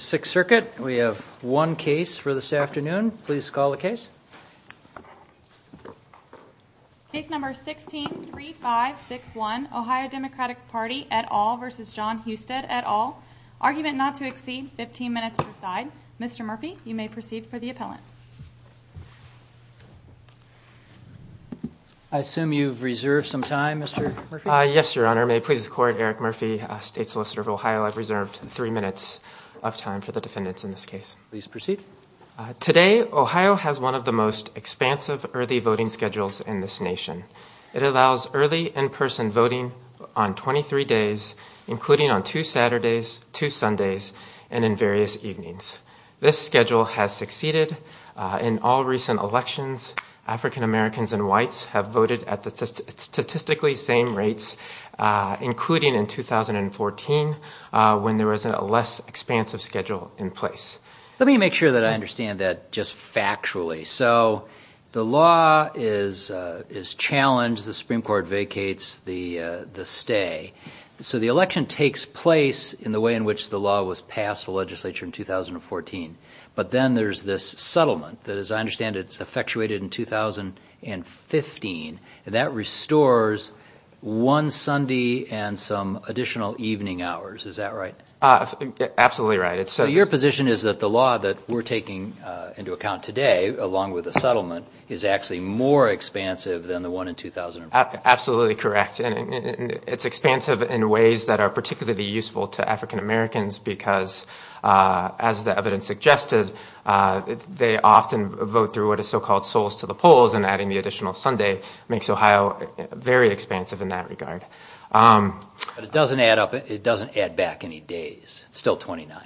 at all, argument not to exceed 15 minutes per side. Mr. Murphy, you may proceed for the appellant. I assume you've reserved some time, Mr. Murphy? Yes, Your Honor. May it please the Court, Eric Murphy, State Solicitor of Ohio, I've reserved three minutes of time. for the defendants in this case. Please proceed. Today, Ohio has one of the most expansive early voting schedules in this nation. It allows early in-person voting on 23 days, including on two Saturdays, two Sundays, and in various evenings. This schedule has succeeded in all recent elections. African-Americans and whites have voted at the statistically same rates, including in 2014, when there was a less expansive schedule in place. Let me make sure that I understand that just factually. So the law is challenged, the Supreme Court vacates the stay, so the election takes place in the way in which the law was passed the legislature in 2014. But then there's this settlement that, as I understand, it's effectuated in 2015, and that restores one Sunday and some evening hours. Is that right? Absolutely right. So your position is that the law that we're taking into account today, along with the settlement, is actually more expansive than the one in 2015? Absolutely correct. It's expansive in ways that are particularly useful to African-Americans, because, as the evidence suggested, they often vote through what is so-called souls to the polls, and adding the additional Sunday makes Ohio very expansive in that regard. It doesn't add back any days. It's still 29.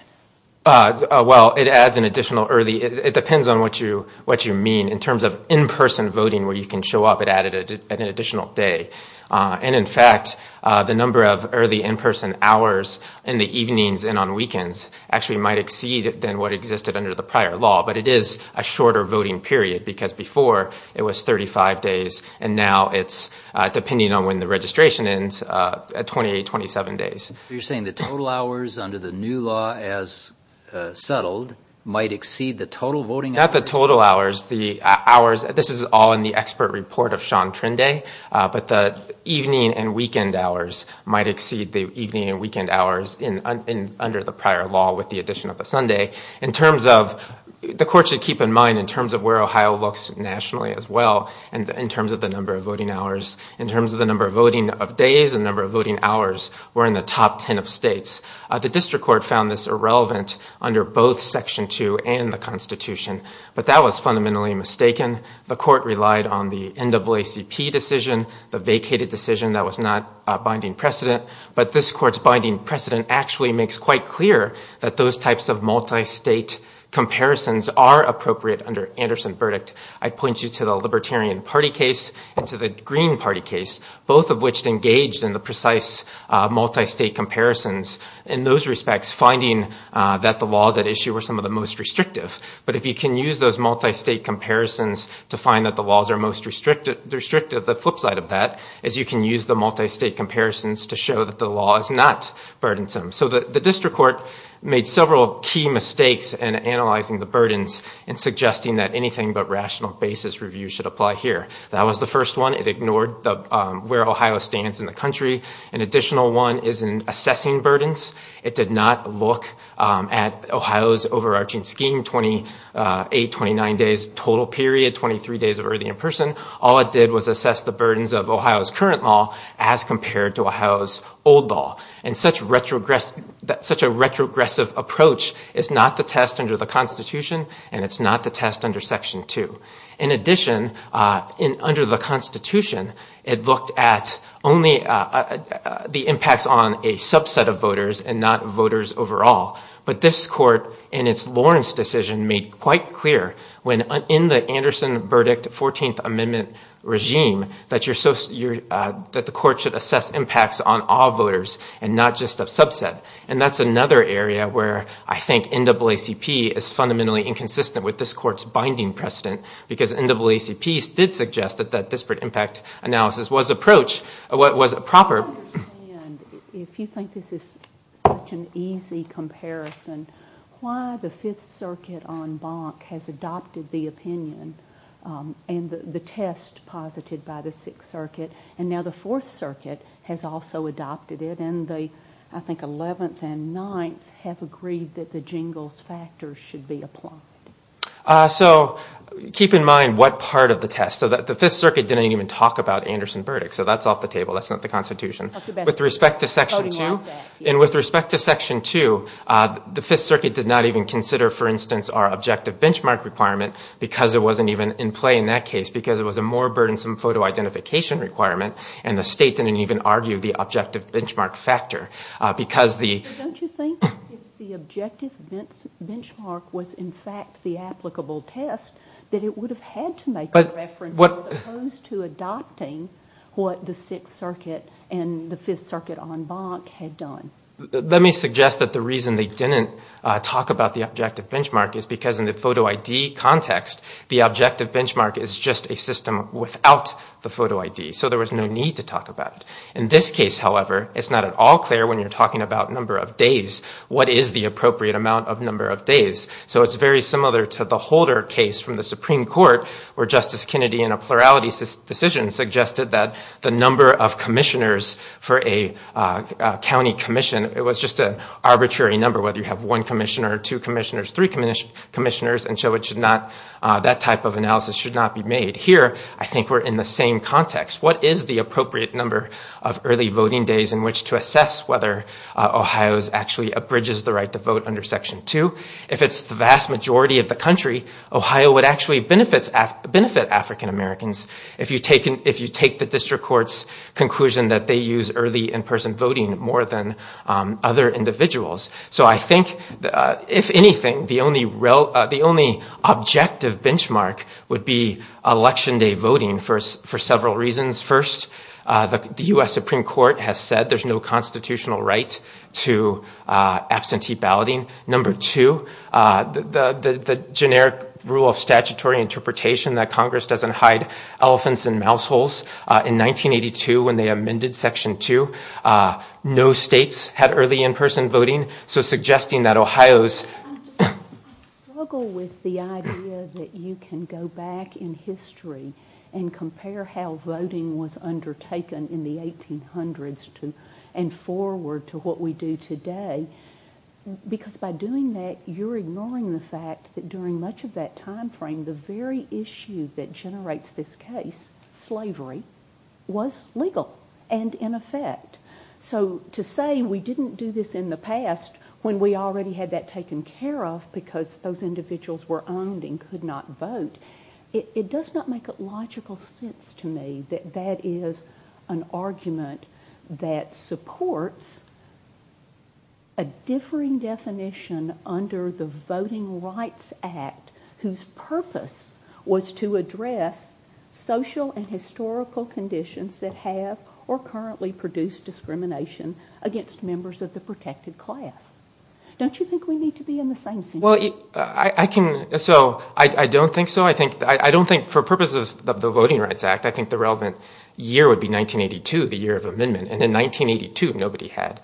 Well, it depends on what you mean. In terms of in-person voting where you can show up, it added an additional day. And in fact, the number of early in-person hours in the evenings and on weekends actually might exceed than what existed under the prior law. But it is a shorter voting period, because before it was 35 days, and now it's, depending on when the registration ends, 28, 27 days. You're saying the total hours under the new law as settled might exceed the total voting hours? Not the total hours, the hours, this is all in the expert report of Sean Trinday, but the evening and weekend hours might exceed the evening and weekend hours under the prior law with the addition of the Sunday. In terms of, the court should keep in mind, in terms of where Ohio looks nationally as well, and in terms of the number of voting hours, in terms of the number of voting of days and number of voting hours, we're in the top 10 of states. The district court found this irrelevant under both Section 2 and the Constitution, but that was fundamentally mistaken. The court relied on the NAACP decision, the vacated decision that was not a binding precedent. But this court's binding precedent actually makes quite clear that those types of multi-state comparisons are appropriate under Anderson verdict. I point you to the Libertarian Party case and to the Green Party case, both of which engaged in the precise multi-state comparisons. In those respects, finding that the laws at issue were some of the most restrictive. But if you can use those multi-state comparisons to find that the laws are most restrictive, the flip side of that is you can use the multi-state comparisons to show that the law is not burdensome. So the district court made several key mistakes in analyzing the burdens and burdens. That was the first one. It ignored where Ohio stands in the country. An additional one is in assessing burdens. It did not look at Ohio's overarching scheme, 28, 29 days total period, 23 days of early in-person. All it did was assess the burdens of Ohio's current law as compared to Ohio's old law. And such a retrogressive approach is not the test under the Constitution and it's not the test under Section 2. In addition, under the Constitution, it looked at only the impacts on a subset of voters and not voters overall. But this court in its Lawrence decision made quite clear when in the Anderson verdict 14th Amendment regime that the court should assess impacts on all voters and not just a subset. And that's another area where I think NAACP is fundamentally inconsistent with this court's binding precedent because NAACP did suggest that that disparate impact analysis was approached, was proper. I don't understand, if you think this is such an easy comparison, why the Fifth Circuit on Bonk has adopted the opinion and the test posited by the Sixth Circuit and now the Fourth Circuit has also adopted it and the, I think, Eleventh and Ninth have agreed that the Jingles factors should be applied. So keep in mind what part of the test. The Fifth Circuit didn't even talk about Anderson verdicts, so that's off the table. That's not the Constitution. With respect to Section 2, and with respect to Section 2, the Fifth Circuit did not even consider, for instance, our objective benchmark requirement because it wasn't even in play in that case because it was a more burdensome photo identification requirement and the state didn't even argue the objective benchmark factor. Don't you think if the objective benchmark was in fact the applicable test that it would have had to make a reference as opposed to adopting what the Sixth Circuit and the Fifth Circuit on Bonk had done? Let me suggest that the reason they didn't talk about the objective benchmark is because in the photo ID context, the objective benchmark is just a system without the photo ID, so there was no need to talk about it. In this case, however, it's not at all clear when you're talking about number of days. What is the appropriate amount of number of days? So it's very similar to the Holder case from the Supreme Court where Justice Kennedy in a plurality decision suggested that the number of commissioners for a county commission, it was just an arbitrary number whether you have one commissioner, two commissioners, three commissioners, and so that type of analysis should not be made. Here, I think we're in the same context. What is the appropriate number of early voting days in which to assess whether Ohio actually abridges the right to vote under Section 2? If it's the vast majority of the country, Ohio would actually benefit African-Americans if you take the district court's conclusion that they use early in-person voting more than other individuals. So I think, if anything, the only objective benchmark would be election day voting for several reasons. First, the U.S. Supreme Court has said there's no constitutional right to absentee balloting. Number two, the generic rule of statutory interpretation that states have early in-person voting, so suggesting that Ohio's... I struggle with the idea that you can go back in history and compare how voting was undertaken in the 1800s and forward to what we do today, because by doing that, you're ignoring the fact that during much of that time frame, the very issue that generates this case, slavery, was legal and in effect. So to say we didn't do this in the past when we already had that taken care of because those individuals were owned and could not vote, it does not make a logical sense to me that that is an argument that supports a differing definition under the Voting Rights Act, whose purpose was to address social and historical conditions that have, or currently produce, discrimination against members of the protected class. Don't you think we need to be in the same situation? I don't think so. For purposes of the Voting Rights Act, I think the relevant year would be 1982, the year of amendment, and in 1982, nobody had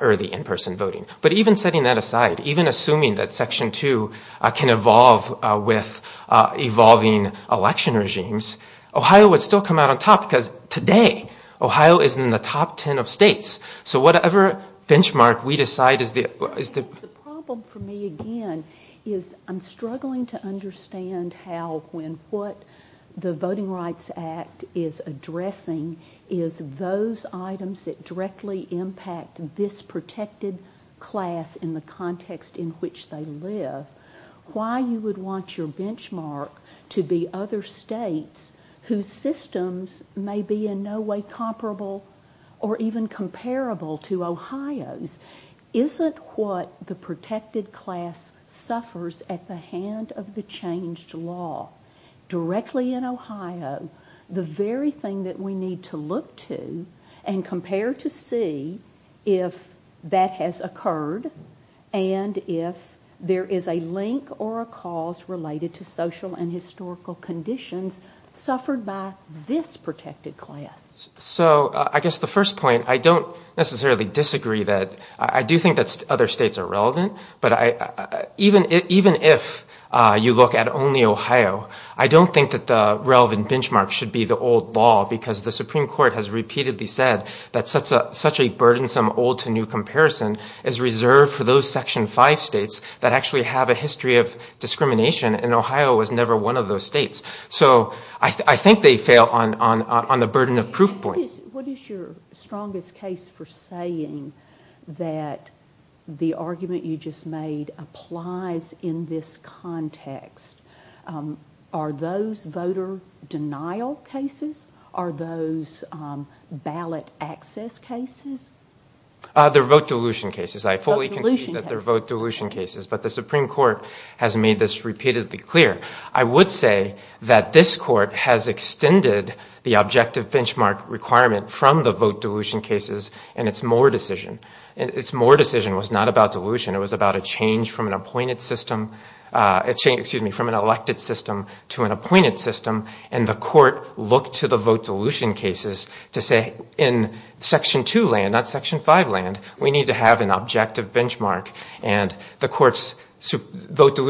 early in-person voting. But even setting that aside, even assuming that Section 2 can evolve with evolving election regimes, Ohio would still come out on top because today, Ohio is in the top ten of states. So whatever benchmark we decide is the... The problem for me, again, is I'm struggling to understand how, when, what the Voting Rights Act is addressing is those items that directly impact this protected class in the context in which they live. Why you would want your benchmark to be other states whose systems may be in no way comparable or even comparable to Ohio's isn't what the protected class suffers at the hand of the changed law. Directly in Ohio, the very thing that we need to look to and compare to see if that has occurred and if there is a link or a cause related to social and historical conditions suffered by this protected class. So I guess the first point, I don't necessarily disagree that, I do think that other states are relevant, but even if you look at only Ohio, I don't think that the relevant benchmark should be the old law because the Supreme Court has repeatedly said that such a burdensome old to new comparison is reserved for those Section 5 states that actually have a history of discrimination and Ohio was never one of those states. So I think they fail on the burden of proof points. What is your strongest case for saying that the argument you just made applies in this context? Are those voter denial cases? Are those ballot access cases? They're vote dilution cases. I fully concede that they're vote dilution cases, but the Supreme Court has made this repeatedly clear. I would say that this court has extended the objective benchmark requirement from the vote dilution cases and its Moore decision. Its Moore decision was not about dilution, it was about a change from an elected system to an appointed system and the court looked to the vote dilution cases to say in Section 2 land, not Section 5 land, we need to have an objective benchmark and the court's vote 1,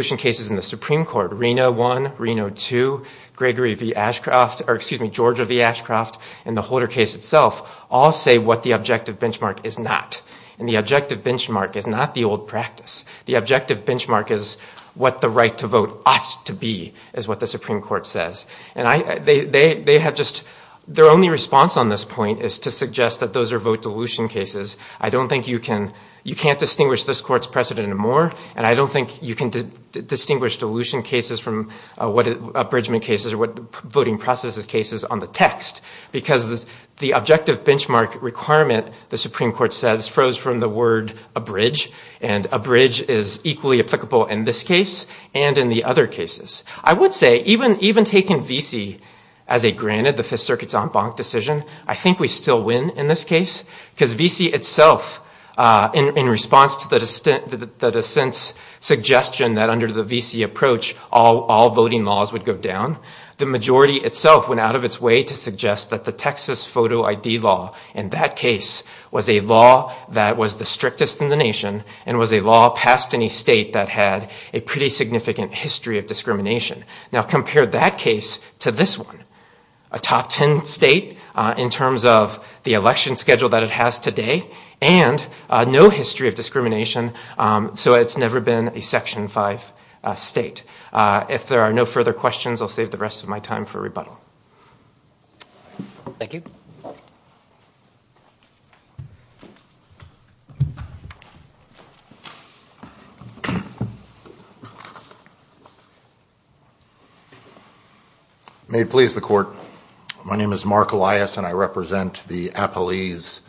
Reno 2, Georgia v. Ashcroft and the Holder case itself all say what the objective benchmark is not and the objective benchmark is not the old practice. The objective benchmark is what the right to vote ought to be is what the Supreme Court says. Their only response on this point is to suggest that those are vote dilution cases. I don't think you can distinguish this court's precedent in Moore and I don't think you can distinguish dilution cases from what abridgement cases or what voting processes cases on the text because the objective benchmark requirement, the Supreme Court says, froze from the word abridge and abridge is equally applicable in this case and in the other cases. I would say even taking V.C. as a granted, the Fifth Circuit's en banc decision, I think we still win in this case because V.C. itself in response to the dissent's suggestion that under the V.C. approach all voting laws would go down, the majority itself went out of its way to suggest that the Texas photo ID law in that case was a law that was the strictest in the nation and was a law past any state that had a pretty significant history of discrimination. Now compare that case to this one, a top 10 state in terms of the election schedule that it has today and no history of discrimination so it's never been a Section 5 state. If there are no further questions, I'll save the rest of my time for rebuttal. Thank you. May it please the Court. My name is Mark Elias and I represent the appellees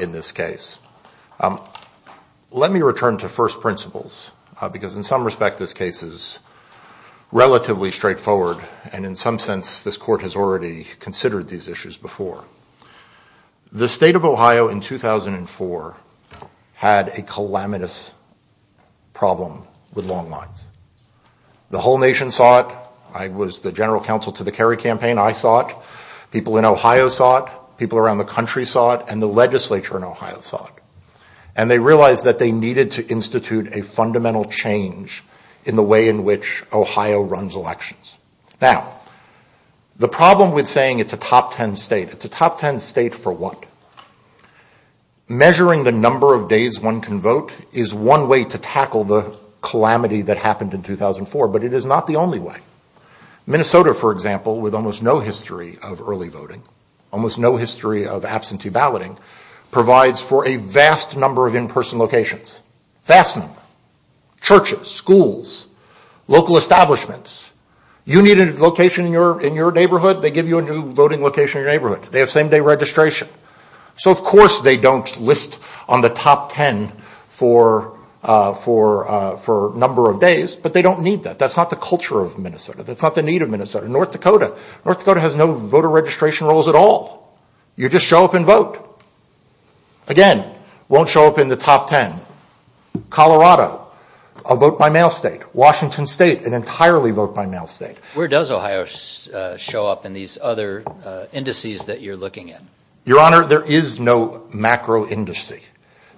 in this case. Let me return to first principles because in some respect this case is relatively straightforward and in some sense this Court has already considered these issues before. The state of Ohio in 2004 had a calamitous problem with long lines. The whole nation saw it, I was the general counsel to the Kerry campaign, I saw it. People in Ohio saw it, people around the country saw it, and the legislature in Ohio saw it. And they realized that they needed to institute a fundamental change in the way in which Ohio runs elections. Now, the problem with saying it's a top 10 state, it's a top 10 state for what? Measuring the number of days one can vote is one way to tackle the calamity that happened in 2004 but it is not the only way. Minnesota, for example, with almost no history of early voting, almost no history of absentee balloting provides for a vast number of in-person locations. Fasteners, churches, schools, local establishments. You need a location in your neighborhood, they give you a new voting location in your neighborhood. They have same-day registration. So, of course, they don't list on the top 10 for number of days but they don't need that. That's not the culture of Minnesota. That's not the need of Minnesota. North Dakota. North Dakota has no voter registration rolls at all. You just show up and vote. Again, won't show up in the top 10. Colorado, a vote-by-mail state. Washington State, an entirely vote-by-mail state. Where does Ohio show up in these other indices that you're looking at? Your Honor, there is no macro-indice.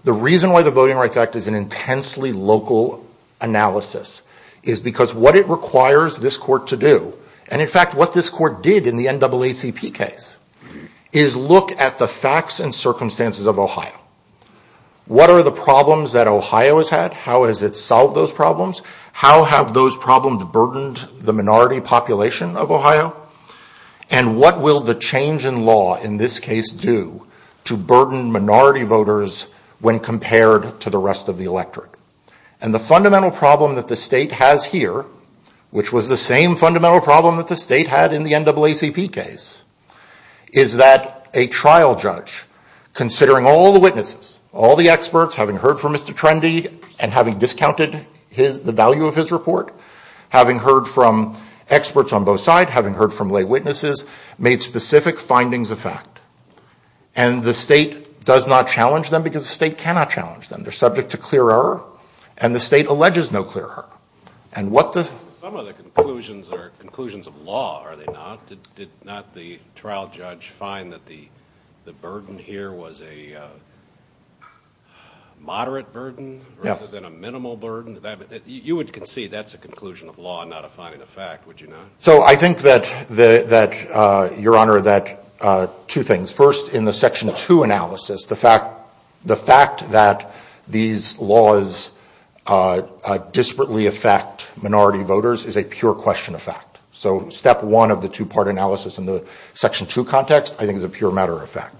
The reason why the Voting Rights Act is an intensely local analysis is because what it requires this court to do, and in fact what this court did in the NAACP case, is look at the facts and circumstances of Ohio. What are the problems that Ohio has had? How has it solved those problems? How have those problems burdened the minority population of Ohio? And what will the change in law in this case do to burden minority voters when compared to the rest of the electorate? And the fundamental problem that the state has here, which was the same fundamental problem that the state had in the NAACP case, is that a trial judge, considering all the witnesses, all the experts, having heard from Mr. Trendy and having discounted the value of his report, having heard from experts on both sides, having heard from lay witnesses, made specific findings of fact. And the state does not challenge them because the state cannot challenge them. They're subject to clear error, and the state alleges no clear error. And what the- But that's a conclusion of law, are they not? Did not the trial judge find that the burden here was a moderate burden rather than a minimal burden? You would concede that's a conclusion of law, not a finding of fact, would you not? So I think that, Your Honor, that two things. First, in the Section 2 analysis, the fact that these laws disparately affect minority voters is a pure question of fact. So step one of the two-part analysis in the Section 2 context, I think, is a pure matter of fact.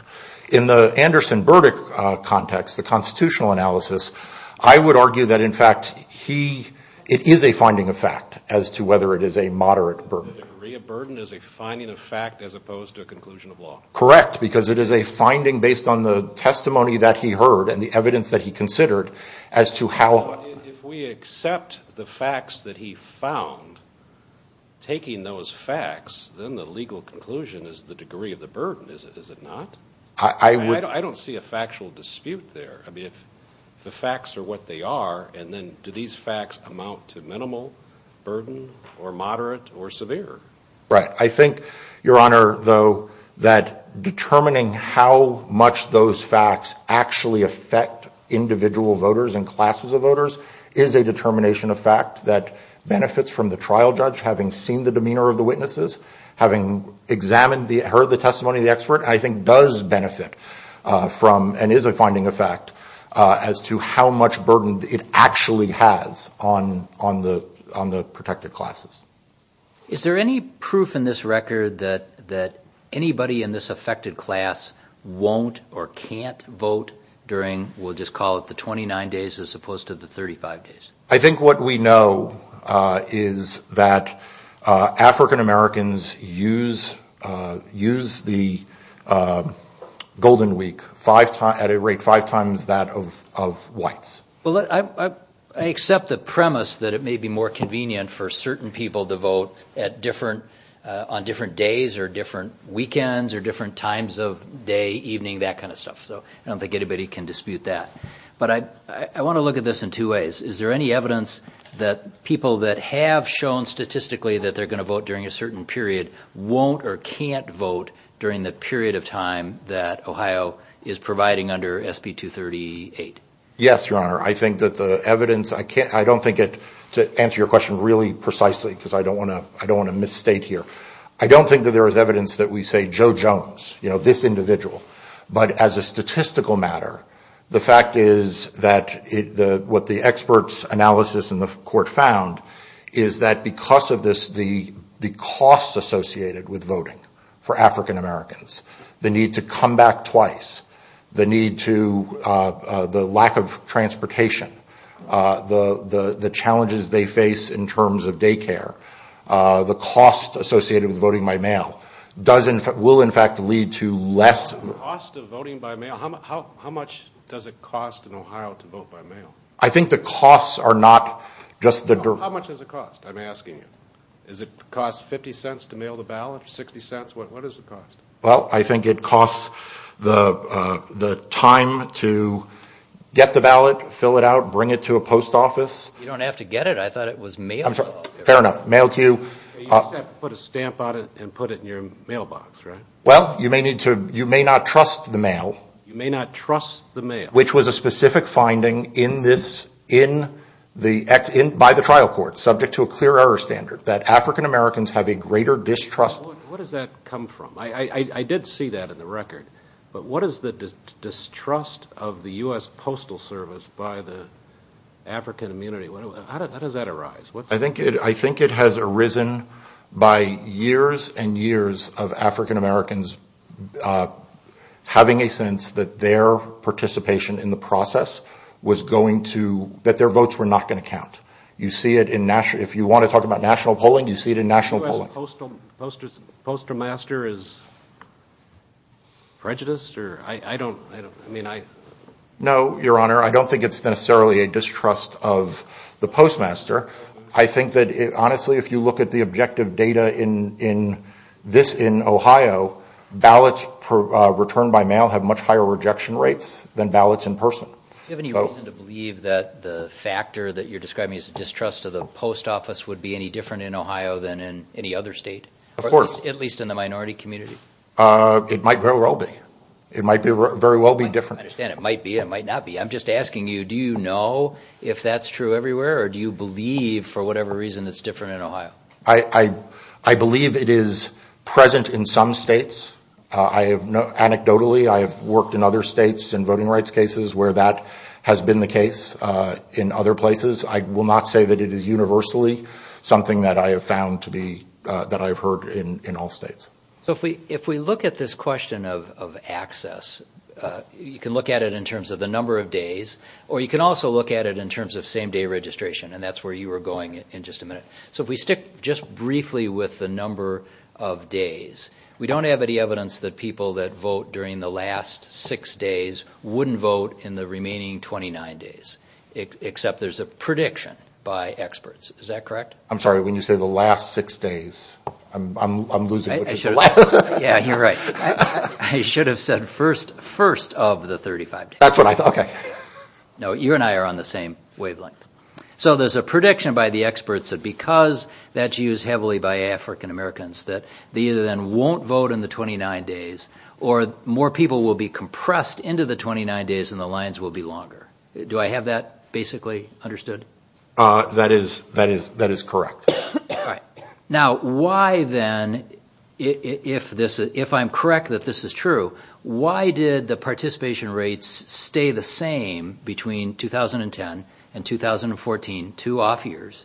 In the Anderson-Burdick context, the constitutional analysis, I would argue that, in fact, he- it is a finding of fact as to whether it is a moderate burden. The degree of burden is a finding of fact as opposed to a conclusion of law. Correct, because it is a finding based on the testimony that he heard and the evidence that he considered as to how- If we accept the facts that he found, taking those facts, then the legal conclusion is the degree of the burden, is it not? I don't see a factual dispute there. If the facts are what they are, and then do these facts amount to minimal burden or moderate or severe? Right. I think, Your Honor, though, that determining how much those facts actually affect individual voters and classes of voters is a determination of fact that benefits from the trial judge having seen the demeanor of the witnesses, having examined the- heard the testimony of the expert, I think does benefit from and is a finding of fact as to how much burden it actually has on the protected classes. Is there any proof in this record that anybody in this affected class won't or can't vote during, we'll just call it the 29 days as opposed to the 35 days? I think what we know is that African Americans use the Golden Week at a rate five times that of whites. Well, I accept the premise that it may be more convenient for certain people to vote at different- on different days or different weekends or different times of day, evening, that kind of stuff. So I don't think anybody can dispute that. But I want to look at this in two ways. Is there any evidence that people that have shown statistically that they're going to vote during a certain period won't or can't vote during the period of time that Ohio is providing under SB 238? Yes, Your Honor. I think that the evidence, I can't- I don't think it- to answer your question really precisely because I don't want to- I don't want to misstate here, I don't think that there is evidence that we say Joe Jones, you know, this individual. But as a statistical matter, the fact is that what the experts' analysis in the court found is that because of this, the cost associated with voting for African Americans, the need to come back twice, the need to- the lack of transportation, the challenges they face in terms of daycare, the cost associated with voting by mail, does in- will in fact lead to less- The cost of voting by mail, how much does it cost in Ohio to vote by mail? I think the costs are not just the- How much does it cost? I'm asking you. Does it cost 50 cents to mail the ballot or 60 cents? What is the cost? Well, I think it costs the time to get the ballot, fill it out, bring it to a post office- You don't have to get it. I thought it was mailed. I'm sorry. Fair enough. Mailed to you- You just have to put a stamp on it and put it in your mailbox, right? Well, you may need to- you may not trust the mail. You may not trust the mail. Which was a specific finding in this- in the- by the trial court, subject to a clear error standard that African Americans have a greater distrust- What does that come from? I did see that in the record. But what is the distrust of the U.S. Postal Service by the African immunity? How does that arise? I think it has arisen by years and years of African Americans having a sense that their participation in the process was going to- that their votes were not going to count. You see it in national- if you want to talk about national polling, you see it in national polling. Do you think the U.S. Postal Master is prejudiced or- I don't- I mean, I- No, your honor. I don't think it's necessarily a distrust of the Postmaster. I think that, honestly, if you look at the objective data in this- in Ohio, ballots returned by mail have much higher rejection rates than ballots in person. Do you have any reason to believe that the factor that you're describing as a distrust of the post office would be any different in Ohio than in any other state? Of course. At least in the minority community? It might very well be. It might be very well be different. I understand. It might be. It might not be. I'm just asking you, do you know if that's true everywhere, or do you believe, for whatever reason, it's different in Ohio? I believe it is present in some states. I have- anecdotally, I have worked in other states in voting rights cases where that has been the case. In other places, I will not say that it is universally something that I have found to be- that I've heard in all states. So if we look at this question of access, you can look at it in terms of the number of days, or you can also look at it in terms of same-day registration, and that's where you were going in just a minute. So if we stick just briefly with the number of days, we don't have any evidence that people that vote during the last six days wouldn't vote in the remaining 29 days, except there's a prediction by experts. Is that correct? I'm sorry, when you say the last six days, I'm losing- Yeah, you're right. I should have said first of the 35 days. That's what I thought. Okay. No, you and I are on the same wavelength. So there's a prediction by the experts that because that's used heavily by African Americans, that they either then won't vote in the 29 days, or more people will be compressed into the 29 days and the lines will be longer. Do I have that basically understood? That is correct. All right. Now, why then, if I'm correct that this is true, why did the participation rates stay the same between 2010 and 2014, two off years,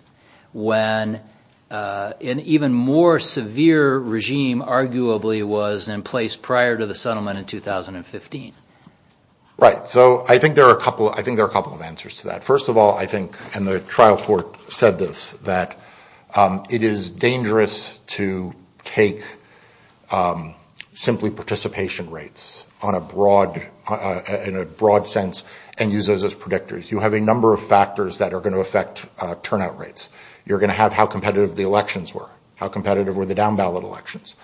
when an even more severe regime arguably was in place prior to the settlement in 2015? Right. So I think there are a couple of answers to that. First of all, I think, and the trial court said this, that it is dangerous to take simply participation rates in a broad sense and use those as predictors. You have a number of factors that are going to affect turnout rates. You're going to have how competitive the elections were, how competitive were the down ballot elections.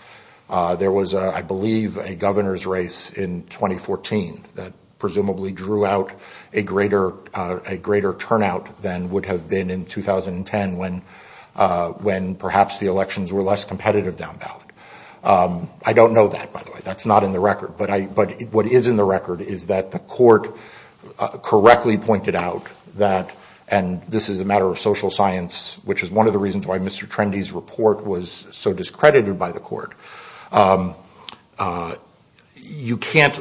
There was, I believe, a governor's race in 2014 that presumably drew out a greater turnout than would have been in 2010 when perhaps the elections were less competitive down ballot. I don't know that, by the way. That's not in the record. But what is in the record is that the court correctly pointed out that, and this is a matter of social science, which is one of the reasons why Mr. Trendy's report was so straightforward. You can't,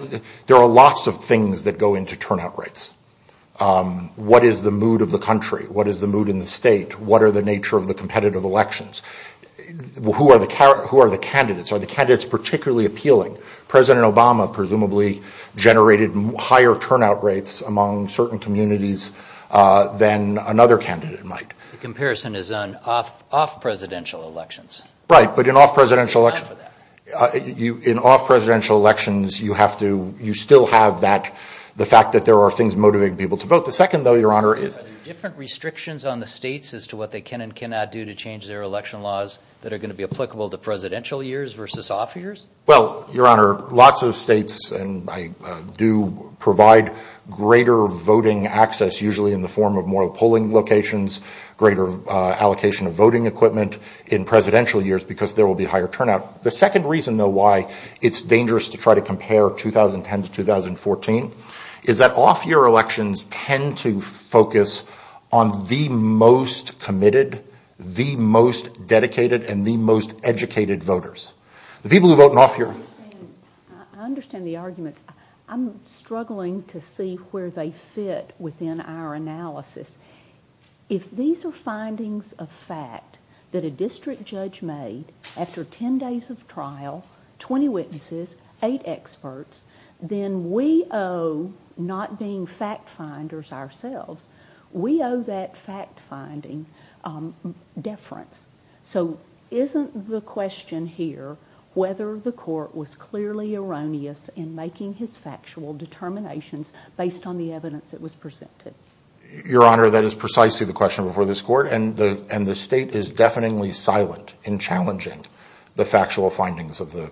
there are lots of things that go into turnout rates. What is the mood of the country? What is the mood in the state? What are the nature of the competitive elections? Who are the candidates? Are the candidates particularly appealing? President Obama presumably generated higher turnout rates among certain communities than another candidate might. The comparison is on off-presidential elections. Right, but in off-presidential elections, you still have the fact that there are things motivating people to vote. The second, though, Your Honor, is- Are there different restrictions on the states as to what they can and cannot do to change their election laws that are going to be applicable to presidential years versus off years? Well, Your Honor, lots of states, and I do provide greater voting access, usually in the form of more polling locations, greater allocation of voting equipment in presidential years because there will be higher turnout. The second reason, though, why it's dangerous to try to compare 2010 to 2014 is that off-year elections tend to focus on the most committed, the most dedicated, and the most educated voters. The people who vote in off-year- I understand. I understand the argument. I'm struggling to see where they fit within our analysis. If these are findings of fact that a district judge made after 10 days of trial, 20 witnesses, 8 experts, then we owe not being fact-finders ourselves, we owe that fact-finding deference. So isn't the question here whether the court was clearly erroneous in making his factual determinations based on the evidence that was presented? Your Honor, that is precisely the question before this court, and the state is deafeningly silent in challenging the factual findings of the-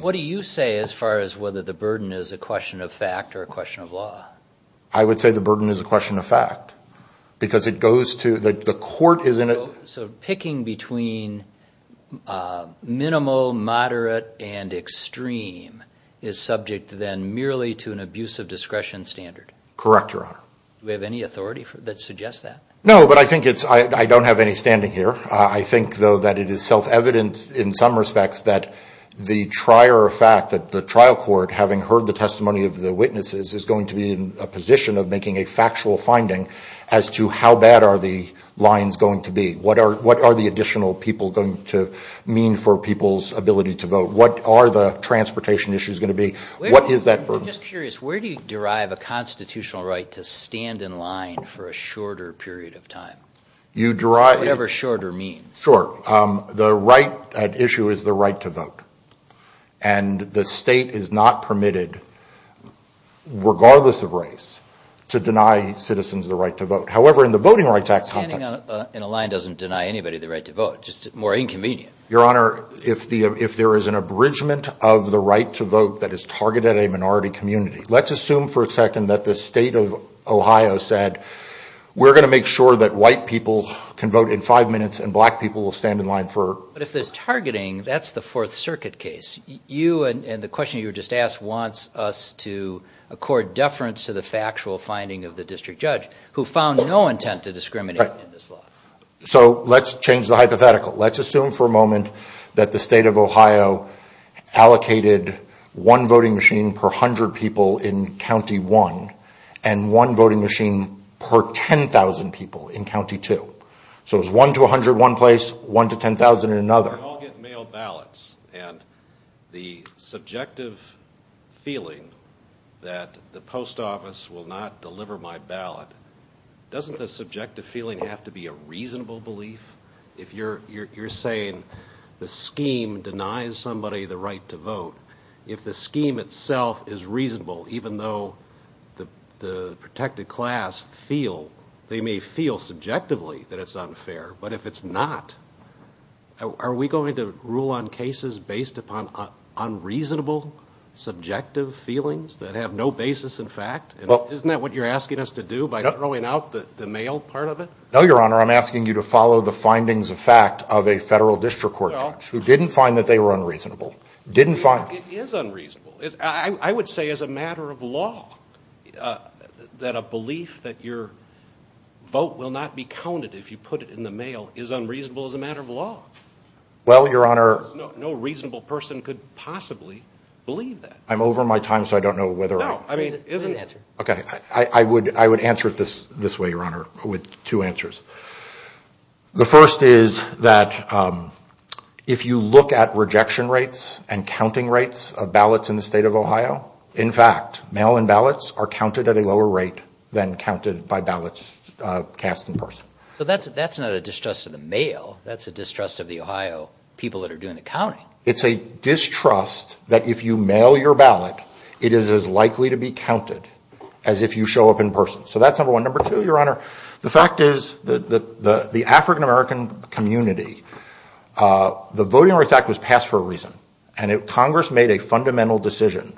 What do you say as far as whether the burden is a question of fact or a question of law? I would say the burden is a question of fact because it goes to- the court is in a- So picking between minimal, moderate, and extreme is subject then merely to an abuse of discretion standard? Correct, Your Honor. Do we have any authority that suggests that? No, but I think it's- I don't have any standing here. I think though that it is self-evident in some respects that the trier of fact that the trial court, having heard the testimony of the witnesses, is going to be in a position of making a factual finding as to how bad are the lines going to be? What are the additional people going to mean for people's ability to vote? What are the transportation issues going to be? What is that burden? I'm just curious. Where do you derive a constitutional right to stand in line for a shorter period of time? You derive- Sure. The right at issue is the right to vote. And the state is not permitted, regardless of race, to deny citizens the right to vote. However, in the Voting Rights Act- Standing in a line doesn't deny anybody the right to vote, just more inconvenient. Your Honor, if there is an abridgment of the right to vote that is targeted at a minority community, let's assume for a second that the state of Ohio said, we're going to make sure that white people can vote in five minutes and black people will stand in line for- But if there's targeting, that's the Fourth Circuit case. You and the question you were just asked wants us to accord deference to the factual finding of the district judge, who found no intent to discriminate in this law. So let's change the hypothetical. Let's assume for a moment that the state of Ohio allocated one voting machine per hundred people in County 1 and one voting machine per 10,000 people in County 2. So it was one to 100 in one place, one to 10,000 in another. We all get mail ballots and the subjective feeling that the post office will not deliver my ballot, doesn't the subjective feeling have to be a reasonable belief? If you're saying the scheme denies somebody the right to vote, if the scheme itself is that it's unfair, but if it's not, are we going to rule on cases based upon unreasonable subjective feelings that have no basis in fact? Isn't that what you're asking us to do by throwing out the mail part of it? No, Your Honor. I'm asking you to follow the findings of fact of a federal district court judge who didn't find that they were unreasonable. Didn't find- It is unreasonable. I would say as a matter of law that a belief that your vote will not be counted if you put it in the mail is unreasonable as a matter of law. Well Your Honor- No reasonable person could possibly believe that. I'm over my time, so I don't know whether I- No, I mean- Please answer. Okay. I would answer it this way, Your Honor, with two answers. The first is that if you look at rejection rates and counting rates of ballots in the state of Ohio, in fact, mail-in ballots are counted at a lower rate than counted by ballots cast in person. That's not a distrust of the mail. That's a distrust of the Ohio people that are doing the counting. It's a distrust that if you mail your ballot, it is as likely to be counted as if you show up in person. So that's number one. Number two, Your Honor. The fact is that the African-American community, the Voting Rights Act was passed for a reason, and Congress made a fundamental decision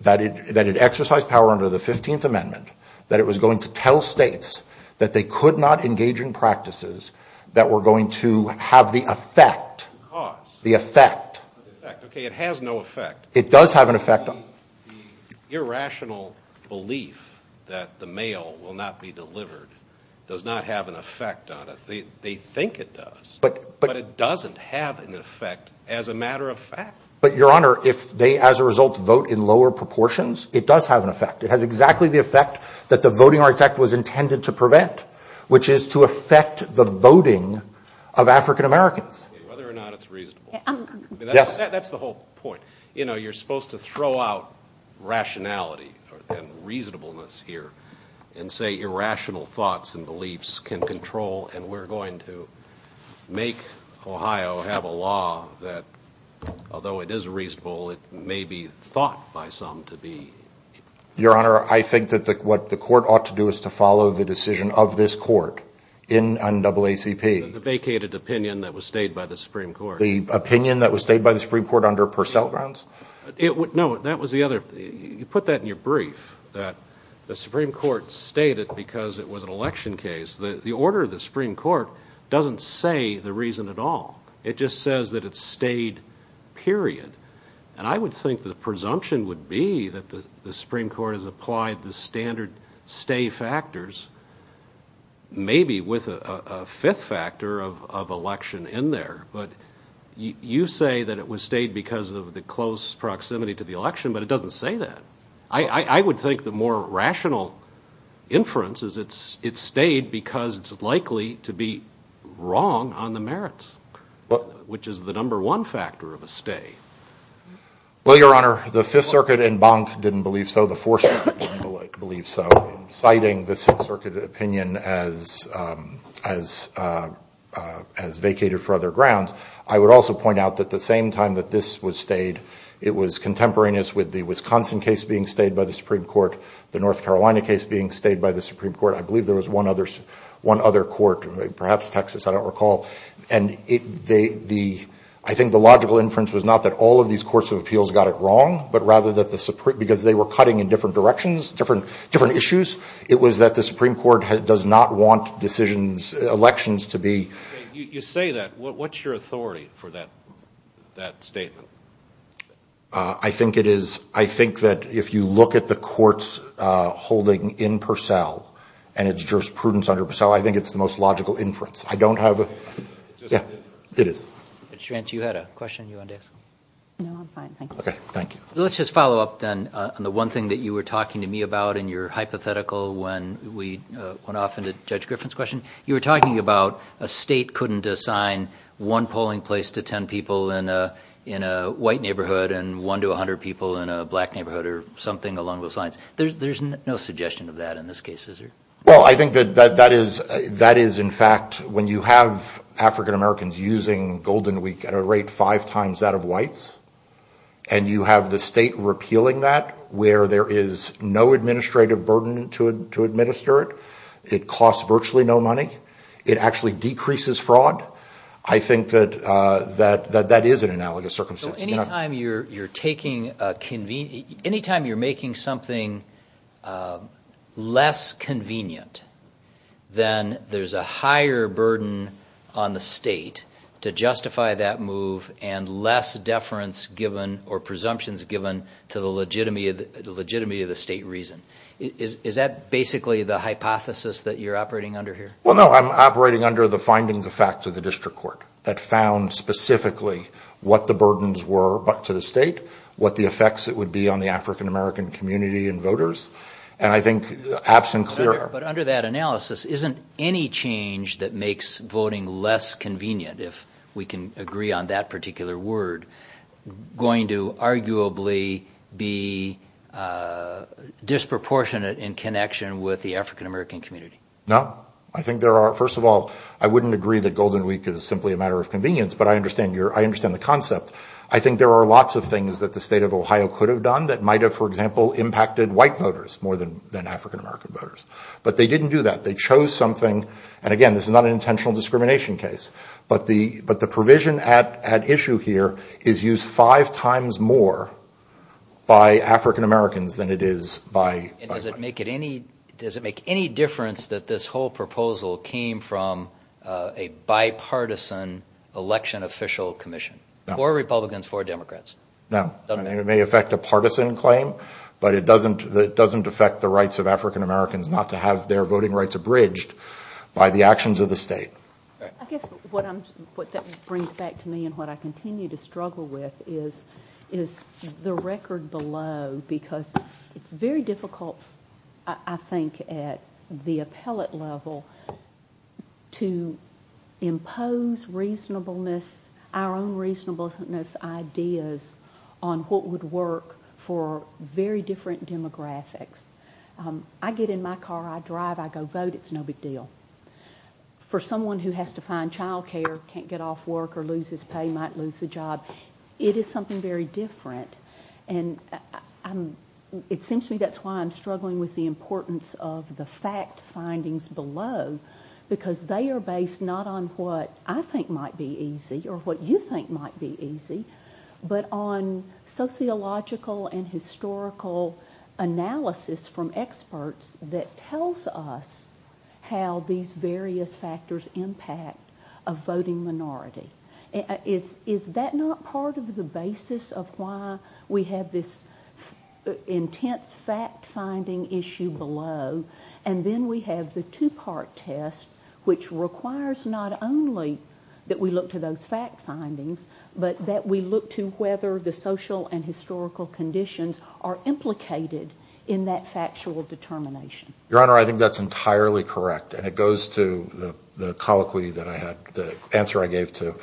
that it exercised power under the 15th Amendment that it was going to tell states that they could not engage in practices that were going to have the effect- Cause. The effect. The effect. Okay, it has no effect. It does have an effect. But the irrational belief that the mail will not be delivered does not have an effect on it. They think it does, but it doesn't have an effect as a matter of fact. But Your Honor, if they, as a result, vote in lower proportions, it does have an effect. It has exactly the effect that the Voting Rights Act was intended to prevent, which is to affect the voting of African-Americans. Whether or not it's reasonable. That's the whole point. You know, you're supposed to throw out rationality and reasonableness here and say irrational thoughts and beliefs can control, and we're going to make Ohio have a law that, although it is reasonable, it may be thought by some to be- Your Honor, I think that what the court ought to do is to follow the decision of this court in NAACP- The vacated opinion that was stayed by the Supreme Court. The opinion that was stayed by the Supreme Court under Purcell grounds? No, that was the other. You put that in your brief, that the Supreme Court stayed it because it was an election case. The order of the Supreme Court doesn't say the reason at all. It just says that it stayed, period. And I would think the presumption would be that the Supreme Court has applied the standard stay factors, maybe with a fifth factor of election in there, but you say that it was stayed because of the close proximity to the election, but it doesn't say that. I would think the more rational inference is it stayed because it's likely to be wrong on the merits, which is the number one factor of a stay. Well, Your Honor, the Fifth Circuit and Bank didn't believe so. The Fourth Circuit didn't believe so, citing the Sixth Circuit opinion as vacated for other grounds. I would also point out that the same time that this was stayed, it was contemporaneous with the Wisconsin case being stayed by the Supreme Court, the North Carolina case being stayed by the Supreme Court. I believe there was one other court, perhaps Texas, I don't recall. I think the logical inference was not that all of these courts of appeals got it wrong, but rather that the Supreme, because they were cutting in different directions, different issues, it was that the Supreme Court does not want decisions, elections to be. You say that. What's your authority for that statement? I think it is. I think that if you look at the courts holding in Purcell and its jurisprudence under Purcell, I think it's the most logical inference. I don't have a... Yeah, it is. Judge Schrantz, you had a question you wanted to ask? No, I'm fine. Thank you. Okay, thank you. Let's just follow up then on the one thing that you were talking to me about in your hypothetical when we went off into Judge Griffin's question. You were talking about a state couldn't assign one polling place to 10 people in a white neighborhood and one to 100 people in a black neighborhood or something along those lines. There's no suggestion of that in this case, is there? Well, I think that is in fact when you have African-Americans using Golden Week at a rate five times that of whites and you have the state repealing that where there is no administrative burden to administer it. It costs virtually no money. It actually decreases fraud. I think that that is an analogous circumstance. So any time you're taking a convenient... Any time you're making something less convenient, then there's a higher burden on the state to justify that move and less deference given or presumptions given to the legitimacy of the state reason. Is that basically the hypothesis that you're operating under here? Well, no, I'm operating under the findings of fact of the district court that found specifically what the burdens were to the state, what the effects it would be on the African-American community and voters. And I think absent clear... But under that analysis, isn't any change that makes voting less convenient, if we can agree on that particular word, going to arguably be disproportionate in connection with the African-American community? No. I think there are... First of all, I wouldn't agree that Golden Week is simply a matter of convenience, but I understand the concept. I think there are lots of things that the state of Ohio could have done that might have, for example, impacted white voters more than African-American voters. But they didn't do that. They chose something... And again, this is not an intentional discrimination case. But the provision at issue here is used five times more by African-Americans than it is by whites. And does it make any difference that this whole proposal came from a bipartisan election official commission? No. Four Republicans, four Democrats. No. It may affect a partisan claim, but it doesn't affect the rights of African-Americans not to have their voting rights abridged by the actions of the state. I guess what that brings back to me and what I continue to struggle with is the record below, because it's very difficult, I think, at the appellate level to impose reasonableness, our own reasonableness ideas on what would work for very different demographics. I get in my car. I drive. I go vote. It's no big deal. For someone who has to find childcare, can't get off work, or loses pay, might lose a job, it is something very different. And it seems to me that's why I'm struggling with the importance of the fact findings below, because they are based not on what I think might be easy or what you think might be easy, but on sociological and historical analysis from experts that tells us how these various factors impact a voting minority. Is that not part of the basis of why we have this intense fact-finding issue below? And then we have the two-part test which requires not only that we look to those fact findings, but that we look to whether the social and historical conditions are implicated in that factual determination. Your Honor, I think that's entirely correct, and it goes to the answer I gave to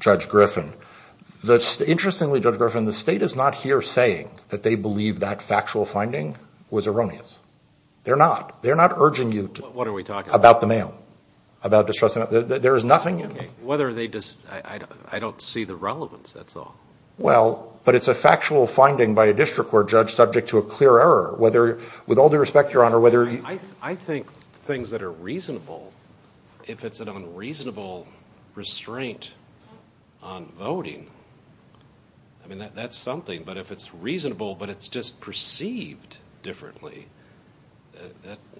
Judge Griffin. Interestingly, Judge Griffin, the state is not here saying that they believe that factual finding was erroneous. They're not. They're not urging you to... What are we talking about? About the mail. About distrust. There is nothing in there. Okay. Whether they... I don't see the relevance. That's all. Well, but it's a factual finding by a district court judge subject to a clear error. With all due respect, Your Honor, whether... I think things that are reasonable, if it's an unreasonable restraint on voting, I mean, that's something. But if it's reasonable, but it's just perceived differently,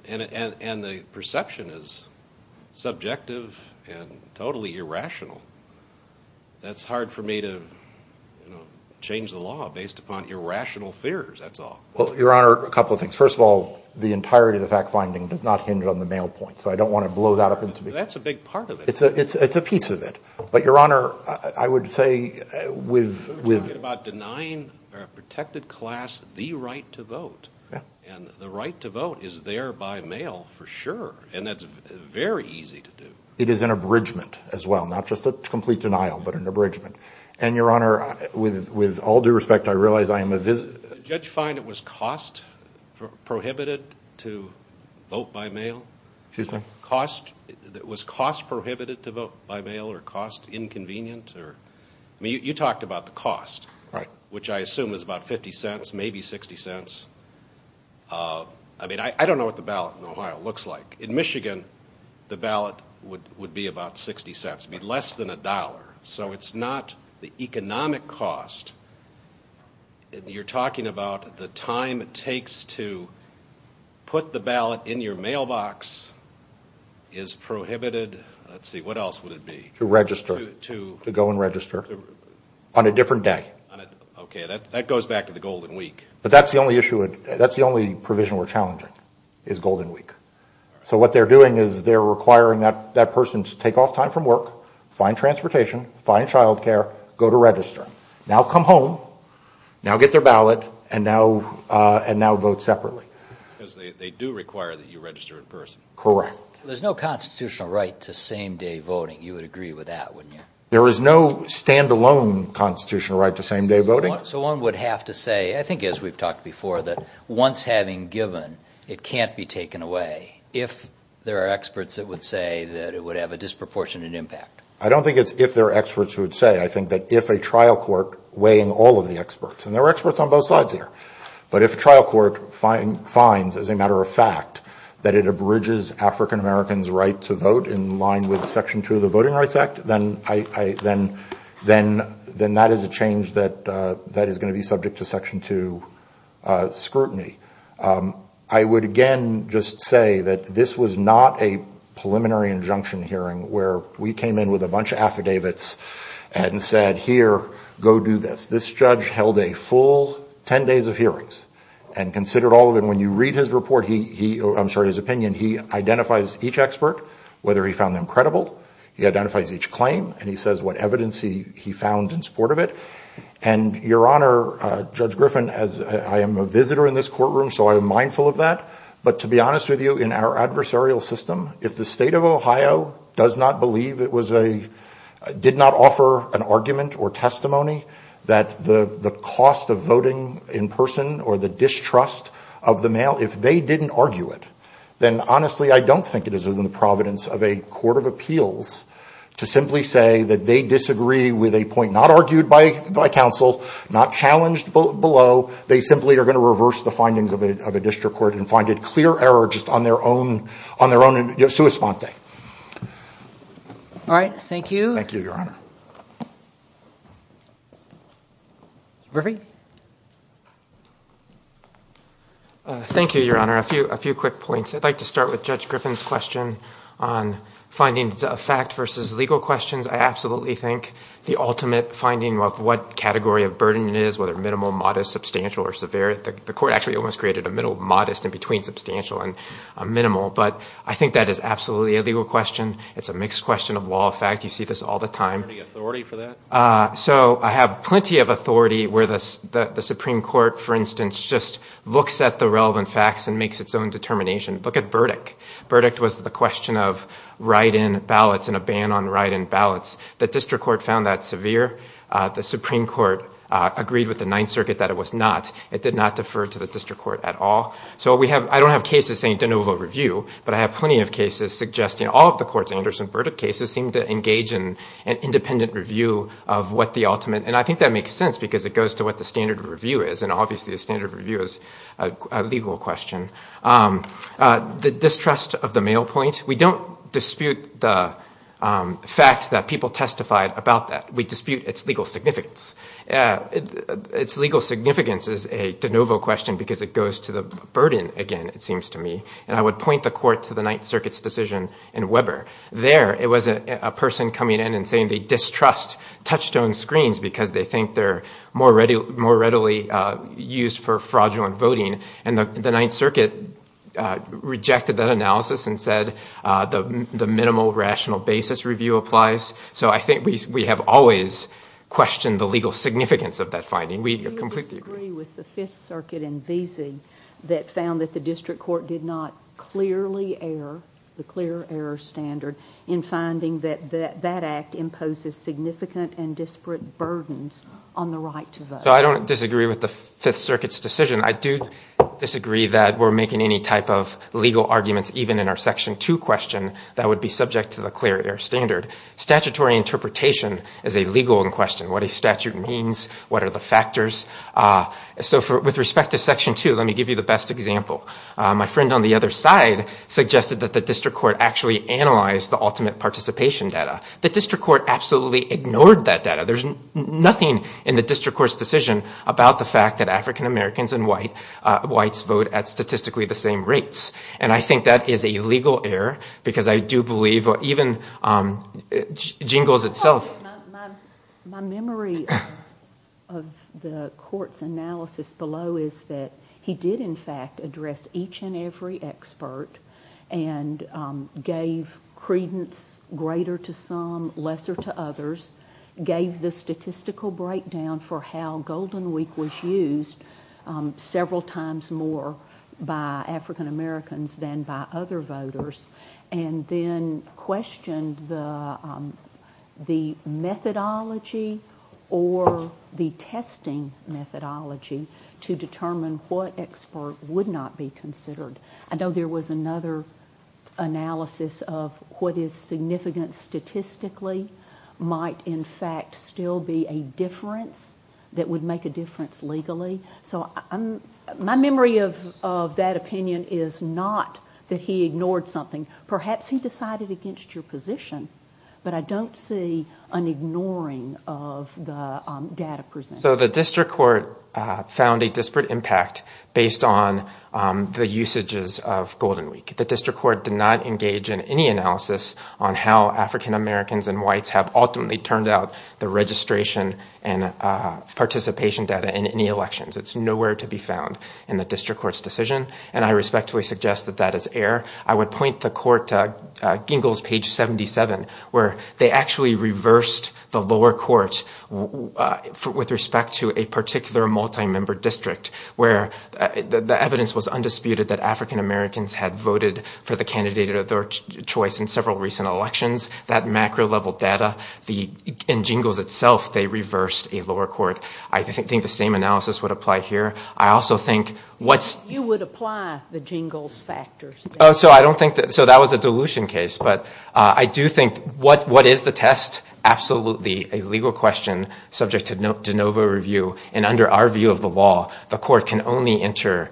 and the perception is subjective and totally irrational, that's hard for me to change the law based upon irrational fears. That's all. Well, Your Honor, a couple of things. First of all, the entirety of the fact finding does not hinder on the mail point, so I don't want to blow that up into... That's a big part of it. It's a piece of it. But Your Honor, I would say with... I'm talking about denying a protected class the right to vote, and the right to vote is there by mail for sure, and that's very easy to do. It is an abridgment as well. Not just a complete denial, but an abridgment. And Your Honor, with all due respect, I realize I am a visit... Did the judge find it was cost prohibited to vote by mail? Excuse me? Cost? Was cost prohibited to vote by mail, or cost inconvenient? I mean, you talked about the cost, which I assume is about 50 cents, maybe 60 cents. I mean, I don't know what the ballot in Ohio looks like. In Michigan, the ballot would be about 60 cents, it would be less than a dollar. So it's not the economic cost. You're talking about the time it takes to put the ballot in your mailbox is prohibited... Let's see, what else would it be? To register. To go and register. On a different day. Okay, that goes back to the Golden Week. But that's the only issue, that's the only provision we're challenging, is Golden Week. So what they're doing is they're requiring that person to take off time from work, find transportation, find childcare, go to register. Now come home, now get their ballot, and now vote separately. Because they do require that you register in person. Correct. There's no constitutional right to same-day voting. You would agree with that, wouldn't you? There is no standalone constitutional right to same-day voting. So one would have to say, I think as we've talked before, that once having given, it can't be taken away. If there are experts that would say that it would have a disproportionate impact. I don't think it's if there are experts who would say. I think that if a trial court weighing all of the experts, and there are experts on both sides here. But if a trial court finds, as a matter of fact, that it abridges African Americans' right to vote in line with Section 2 of the Voting Rights Act, then that is a change that is going to be subject to Section 2 scrutiny. I would again just say that this was not a preliminary injunction hearing where we came in with a bunch of affidavits and said, here, go do this. This judge held a full 10 days of hearings and considered all of them. When you read his report, I'm sorry, his opinion, he identifies each expert, whether he found them credible. He identifies each claim, and he says what evidence he found in support of it. And Your Honor, Judge Griffin, I am a visitor in this courtroom, so I am mindful of that. But to be honest with you, in our adversarial system, if the state of Ohio does not believe it was a, did not offer an argument or testimony that the cost of voting in person or the distrust of the mail, if they didn't argue it, then honestly, I don't think it is within the providence of a court of appeals to simply say that they disagree with a point not argued by counsel, not challenged below. They simply are going to reverse the findings of a district court and find it clear error just on their own, on their own, sua sponte. All right. Thank you. Thank you, Your Honor. Thank you, Your Honor. A few quick points. I'd like to start with Judge Griffin's question on findings of fact versus legal questions. I absolutely think the ultimate finding of what category of burden it is, whether minimal, modest, substantial, or severe, the court actually almost created a middle modest in between substantial and minimal. But I think that is absolutely a legal question. It's a mixed question of law of fact. You see this all the time. Do you have authority for that? So I have plenty of authority where the Supreme Court, for instance, just looks at the relevant facts and makes its own determination. Look at Burdick. Burdick was the question of write-in ballots and a ban on write-in ballots. The district court found that severe. The Supreme Court agreed with the Ninth Circuit that it was not. It did not defer to the district court at all. So I don't have cases saying de novo review, but I have plenty of cases suggesting all of the courts' Anderson-Burdick cases seem to engage in an independent review of what the ultimate. And I think that makes sense because it goes to what the standard of review is. And obviously, the standard of review is a legal question. The distrust of the mail point. We don't dispute the fact that people testified about that. We dispute its legal significance. Its legal significance is a de novo question because it goes to the burden again, it seems to me. And I would point the court to the Ninth Circuit's decision in Weber. There, it was a person coming in and saying they distrust touchstone screens because they think they're more readily used for fraudulent voting. And the Ninth Circuit rejected that analysis and said the minimal rational basis review applies. So I think we have always questioned the legal significance of that finding. We completely agree. Do you disagree with the Fifth Circuit in Veazey that found that the district court did not clearly err, the clear error standard, in finding that that act imposes significant and disparate burdens on the right to vote? So I don't disagree with the Fifth Circuit's decision. I do disagree that we're making any type of legal arguments, even in our Section 2 question, that would be subject to the clear error standard. Statutory interpretation is a legal question. What a statute means, what are the factors. So with respect to Section 2, let me give you the best example. My friend on the other side suggested that the district court actually analyzed the ultimate participation data. The district court absolutely ignored that data. There's nothing in the district court's decision about the fact that African Americans and whites vote at statistically the same rates. And I think that is a legal error, because I do believe, even Jingles itself- My memory of the court's analysis below is that he did in fact address each and every expert and gave credence greater to some, lesser to others, gave the statistical breakdown for how Golden Week was used several times more by African Americans than by other voters, and then questioned the methodology or the testing methodology to determine what expert would not be considered. I know there was another analysis of what is significant statistically might in fact still be a difference that would make a difference legally. So my memory of that opinion is not that he ignored something. Perhaps he decided against your position, but I don't see an ignoring of the data presented. So the district court found a disparate impact based on the usages of Golden Week. The district court did not engage in any analysis on how African Americans and whites have ultimately turned out the registration and participation data in any elections. It's nowhere to be found in the district court's decision, and I respectfully suggest that that is error. I would point the court to Jingles page 77, where they actually reversed the lower court with respect to a particular multi-member district, where the evidence was undisputed that African Americans had voted for the candidate of their choice in several recent elections. That macro-level data, in Jingles itself, they reversed a lower court. I think the same analysis would apply here. I also think what's... You would apply the Jingles factors. So that was a dilution case, but I do think what is the test? Absolutely a legal question subject to de novo review, and under our view of the law, the court can only enter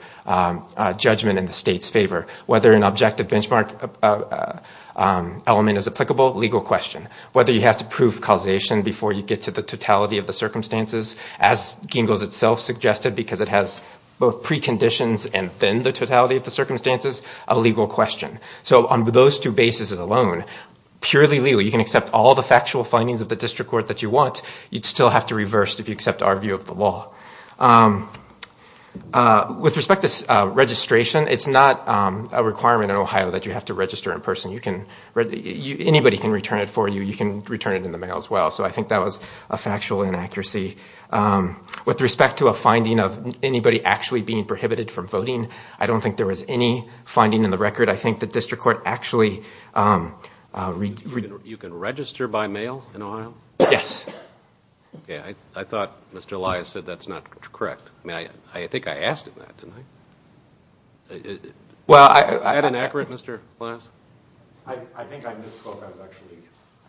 judgment in the state's favor. Whether an objective benchmark element is applicable, legal question. Whether you have to prove causation before you get to the totality of the circumstances, as Jingles itself suggested, because it has both preconditions and then the totality of the circumstances, a legal question. So on those two bases alone, purely legal. You can accept all the factual findings of the district court that you want. You'd still have to reverse if you accept our view of the law. With respect to registration, it's not a requirement in Ohio that you have to register in person. Anybody can return it for you. You can return it in the mail as well. So I think that was a factual inaccuracy. With respect to a finding of anybody actually being prohibited from voting, I don't think there was any finding in the record. I think the district court actually... You can register by mail in Ohio? Yes. I thought Mr. Elias said that's not correct. I think I asked him that, didn't I? Well, I... Is that inaccurate, Mr. Elias? I think I misspoke. I was actually...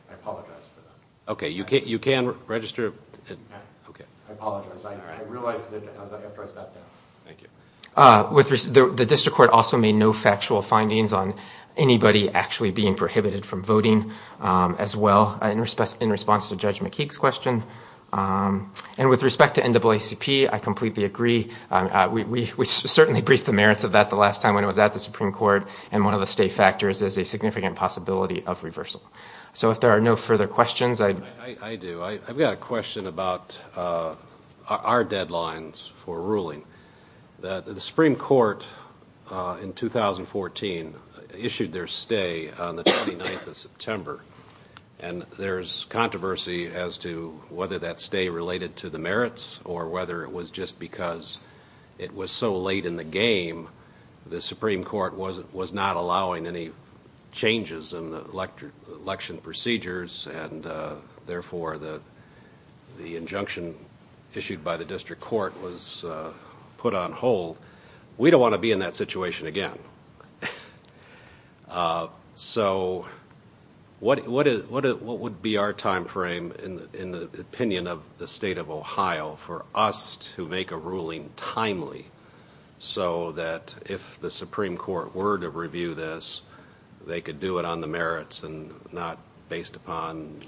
I apologize for that. Okay, you can register... I apologize. I realized it after I sat down. Thank you. The district court also made no factual findings on anybody actually being prohibited from And with respect to NAACP, I completely agree. We certainly briefed the merits of that the last time when it was at the Supreme Court, and one of the state factors is a significant possibility of reversal. So if there are no further questions, I'd... I do. I've got a question about our deadlines for ruling. The Supreme Court in 2014 issued their stay on the 29th of September, and there's controversy as to whether that stay related to the merits or whether it was just because it was so late in the game, the Supreme Court was not allowing any changes in the election procedures and therefore the injunction issued by the district court was put on hold. We don't want to be in that situation again. So, what would be our time frame in the opinion of the state of Ohio for us to make a ruling timely so that if the Supreme Court were to review this, they could do it on the merits and not based upon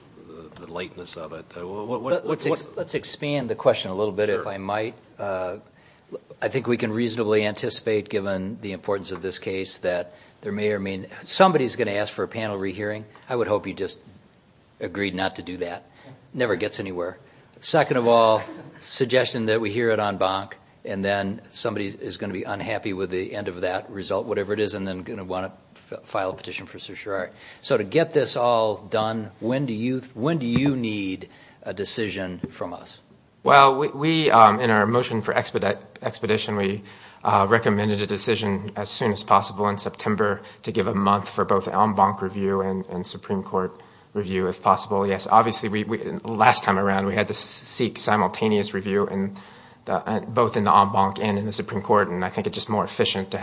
the lateness of it? Let's expand the question a little bit, if I might. I think we can reasonably anticipate, given the importance of this case, that there may or may not... Somebody's going to ask for a panel re-hearing. I would hope you just agreed not to do that. Never gets anywhere. Second of all, suggestion that we hear it on bonk and then somebody is going to be unhappy with the end of that result, whatever it is, and then going to want to file a petition for certiorari. So to get this all done, when do you need a decision from us? Well, in our motion for expedition, we recommended a decision as soon as possible in September to give a month for both en banc review and Supreme Court review, if possible. Yes, obviously, last time around, we had to seek simultaneous review both in the en banc and in the Supreme Court, and I think it's just more efficient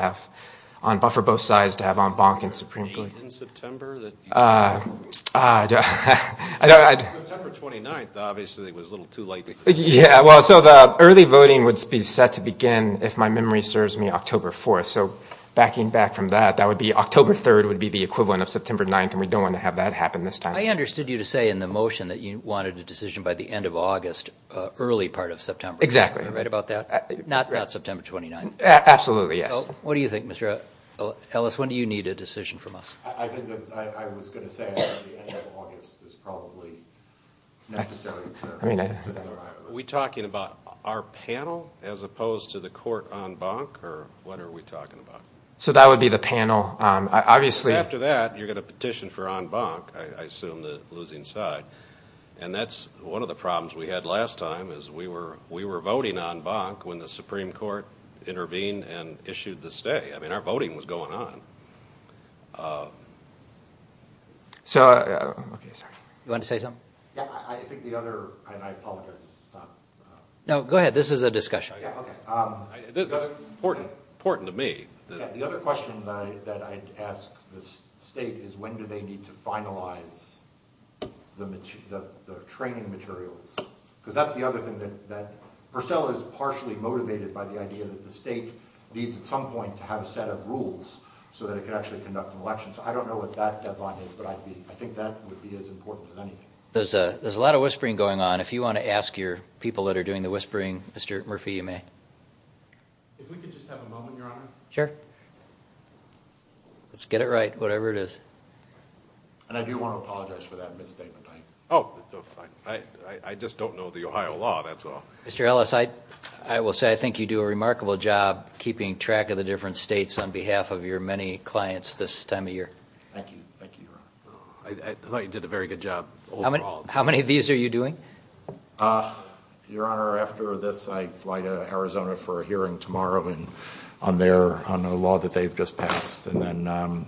for both sides to have en banc and Supreme Court. Was there a date in September that you... September 29th, obviously, was a little too late. Yeah, well, so the early voting would be set to begin if my memory serves me October 4th. So backing back from that, that would be October 3rd would be the equivalent of September 9th, and we don't want to have that happen this time. I understood you to say in the motion that you wanted a decision by the end of August, early part of September. Exactly. Am I right about that? Not September 29th. Absolutely, yes. What do you think, Mr. Ellis? When do you need a decision from us? I think that I was going to say that the end of August is probably necessary in terms of the other items. Are we talking about our panel as opposed to the court en banc, or what are we talking about? So that would be the panel. Obviously... Because after that, you're going to petition for en banc, I assume the losing side, and that's one of the problems we had last time is we were voting en banc when the Supreme Court intervened and issued the stay. I mean, our voting was going on. You want to say something? Yeah, I think the other... And I apologize. No, go ahead. This is a discussion. Yeah, okay. This is important to me. Yeah, the other question that I'd ask the state is when do they need to finalize the training materials? Because that's the other thing that... Purcell is partially motivated by the idea that the state needs, at some point, to have a set of rules so that it can actually conduct an election. So I don't know what that deadline is, but I think that would be as important as anything. There's a lot of whispering going on. If you want to ask your people that are doing the whispering, Mr. Murphy, you may. If we could just have a moment, Your Honor. Sure. Let's get it right, whatever it is. And I do want to apologize for that misstatement. Oh, I just don't know the Ohio law, that's all. Mr. Ellis, I will say I think you do a remarkable job keeping track of the different states on behalf of your many clients this time of year. Thank you. Thank you, Your Honor. I thought you did a very good job overall. How many of these are you doing? Your Honor, after this, I fly to Arizona for a hearing tomorrow on a law that they've just passed. And then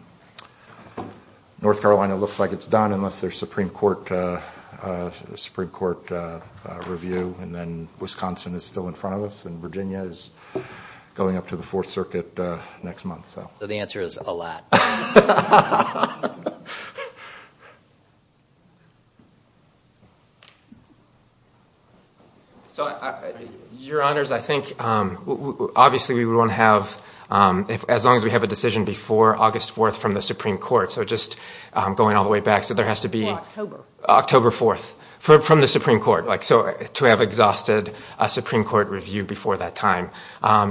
North Carolina looks like it's done, unless there's a Supreme Court review. And then Wisconsin is still in front of us, and Virginia is going up to the Fourth Circuit next month. So the answer is, a lot. So Your Honors, I think, obviously, we want to have, as long as we have a decision before August 4th from the Supreme Court, so just going all the way back, so there has to be October 4th from the Supreme Court. So to have exhausted a Supreme Court review before that time.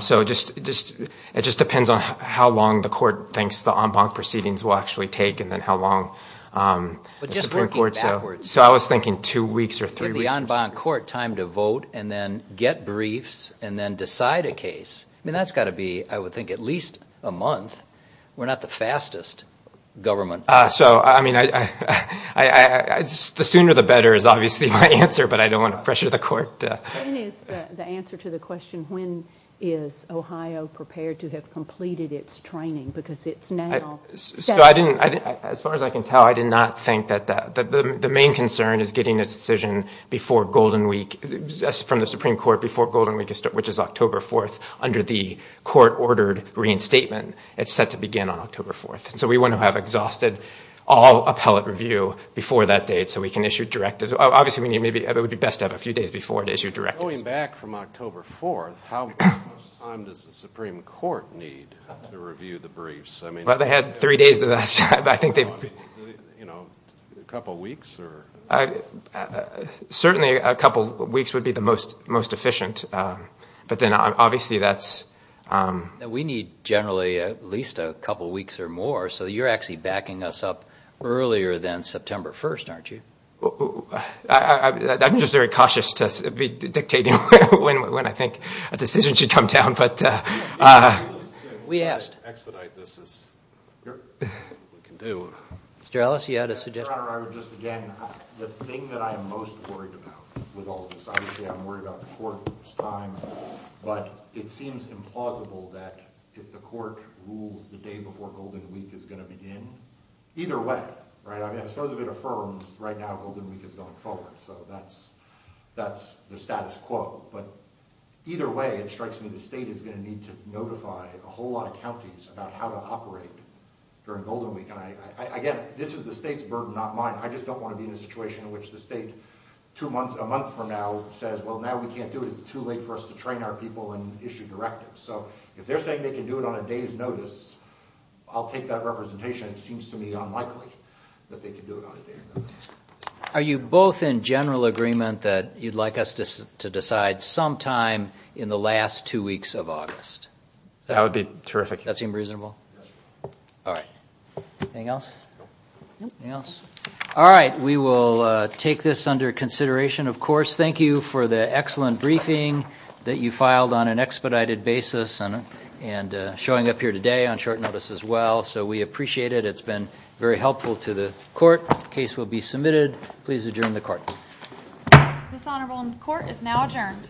So it just depends on how long the court thinks the en banc proceedings will actually take, and then how long the Supreme Court. So I was thinking two weeks or three weeks. Give the en banc court time to vote, and then get briefs, and then decide a case. I mean, that's got to be, I would think, at least a month. We're not the fastest government. So I mean, the sooner the better is obviously my answer, but I don't want to pressure the court. When is the answer to the question, when is Ohio prepared to have completed its training? Because it's now. So I didn't, as far as I can tell, I did not think that. The main concern is getting a decision before Golden Week, from the Supreme Court, before Golden Week, which is October 4th, under the court-ordered reinstatement. It's set to begin on October 4th. So we want to have exhausted all appellate review before that date, so we can issue directives. Obviously, it would be best to have a few days before to issue directives. Going back from October 4th, how much time does the Supreme Court need to review the briefs? Well, they had three days to do that, so I think they'd be— You know, a couple weeks? Certainly a couple weeks would be the most efficient, but then obviously that's— We need generally at least a couple weeks or more, so you're actually backing us up earlier than September 1st, aren't you? I'm just very cautious to be dictating when I think a decision should come down, but— We asked. We can expedite this as we can do. Mr. Ellis, you had a suggestion? Your Honor, I would just, again, the thing that I am most worried about with all of this, obviously I'm worried about the court's time, but it seems implausible that a decision should be made if the court rules the day before Golden Week is going to begin. Either way, right? I mean, I suppose if it affirms right now Golden Week is going forward, so that's the status quo, but either way, it strikes me the state is going to need to notify a whole lot of counties about how to operate during Golden Week, and again, this is the state's burden, not mine. I just don't want to be in a situation in which the state two months, a month from now says, well, now we can't do it, it's too late for us to train our people and issue directives. So if they're saying they can do it on a day's notice, I'll take that representation. It seems to me unlikely that they can do it on a day's notice. Are you both in general agreement that you'd like us to decide sometime in the last two weeks of August? That would be terrific. That seem reasonable? Yes, Your Honor. All right. Anything else? Nope. Anything else? All right. We will take this under consideration, of course. Thank you for the excellent briefing that you filed on an expedited basis and showing up here today on short notice as well, so we appreciate it. It's been very helpful to the Court. Case will be submitted. Please adjourn the Court. This Honorable Court is now adjourned.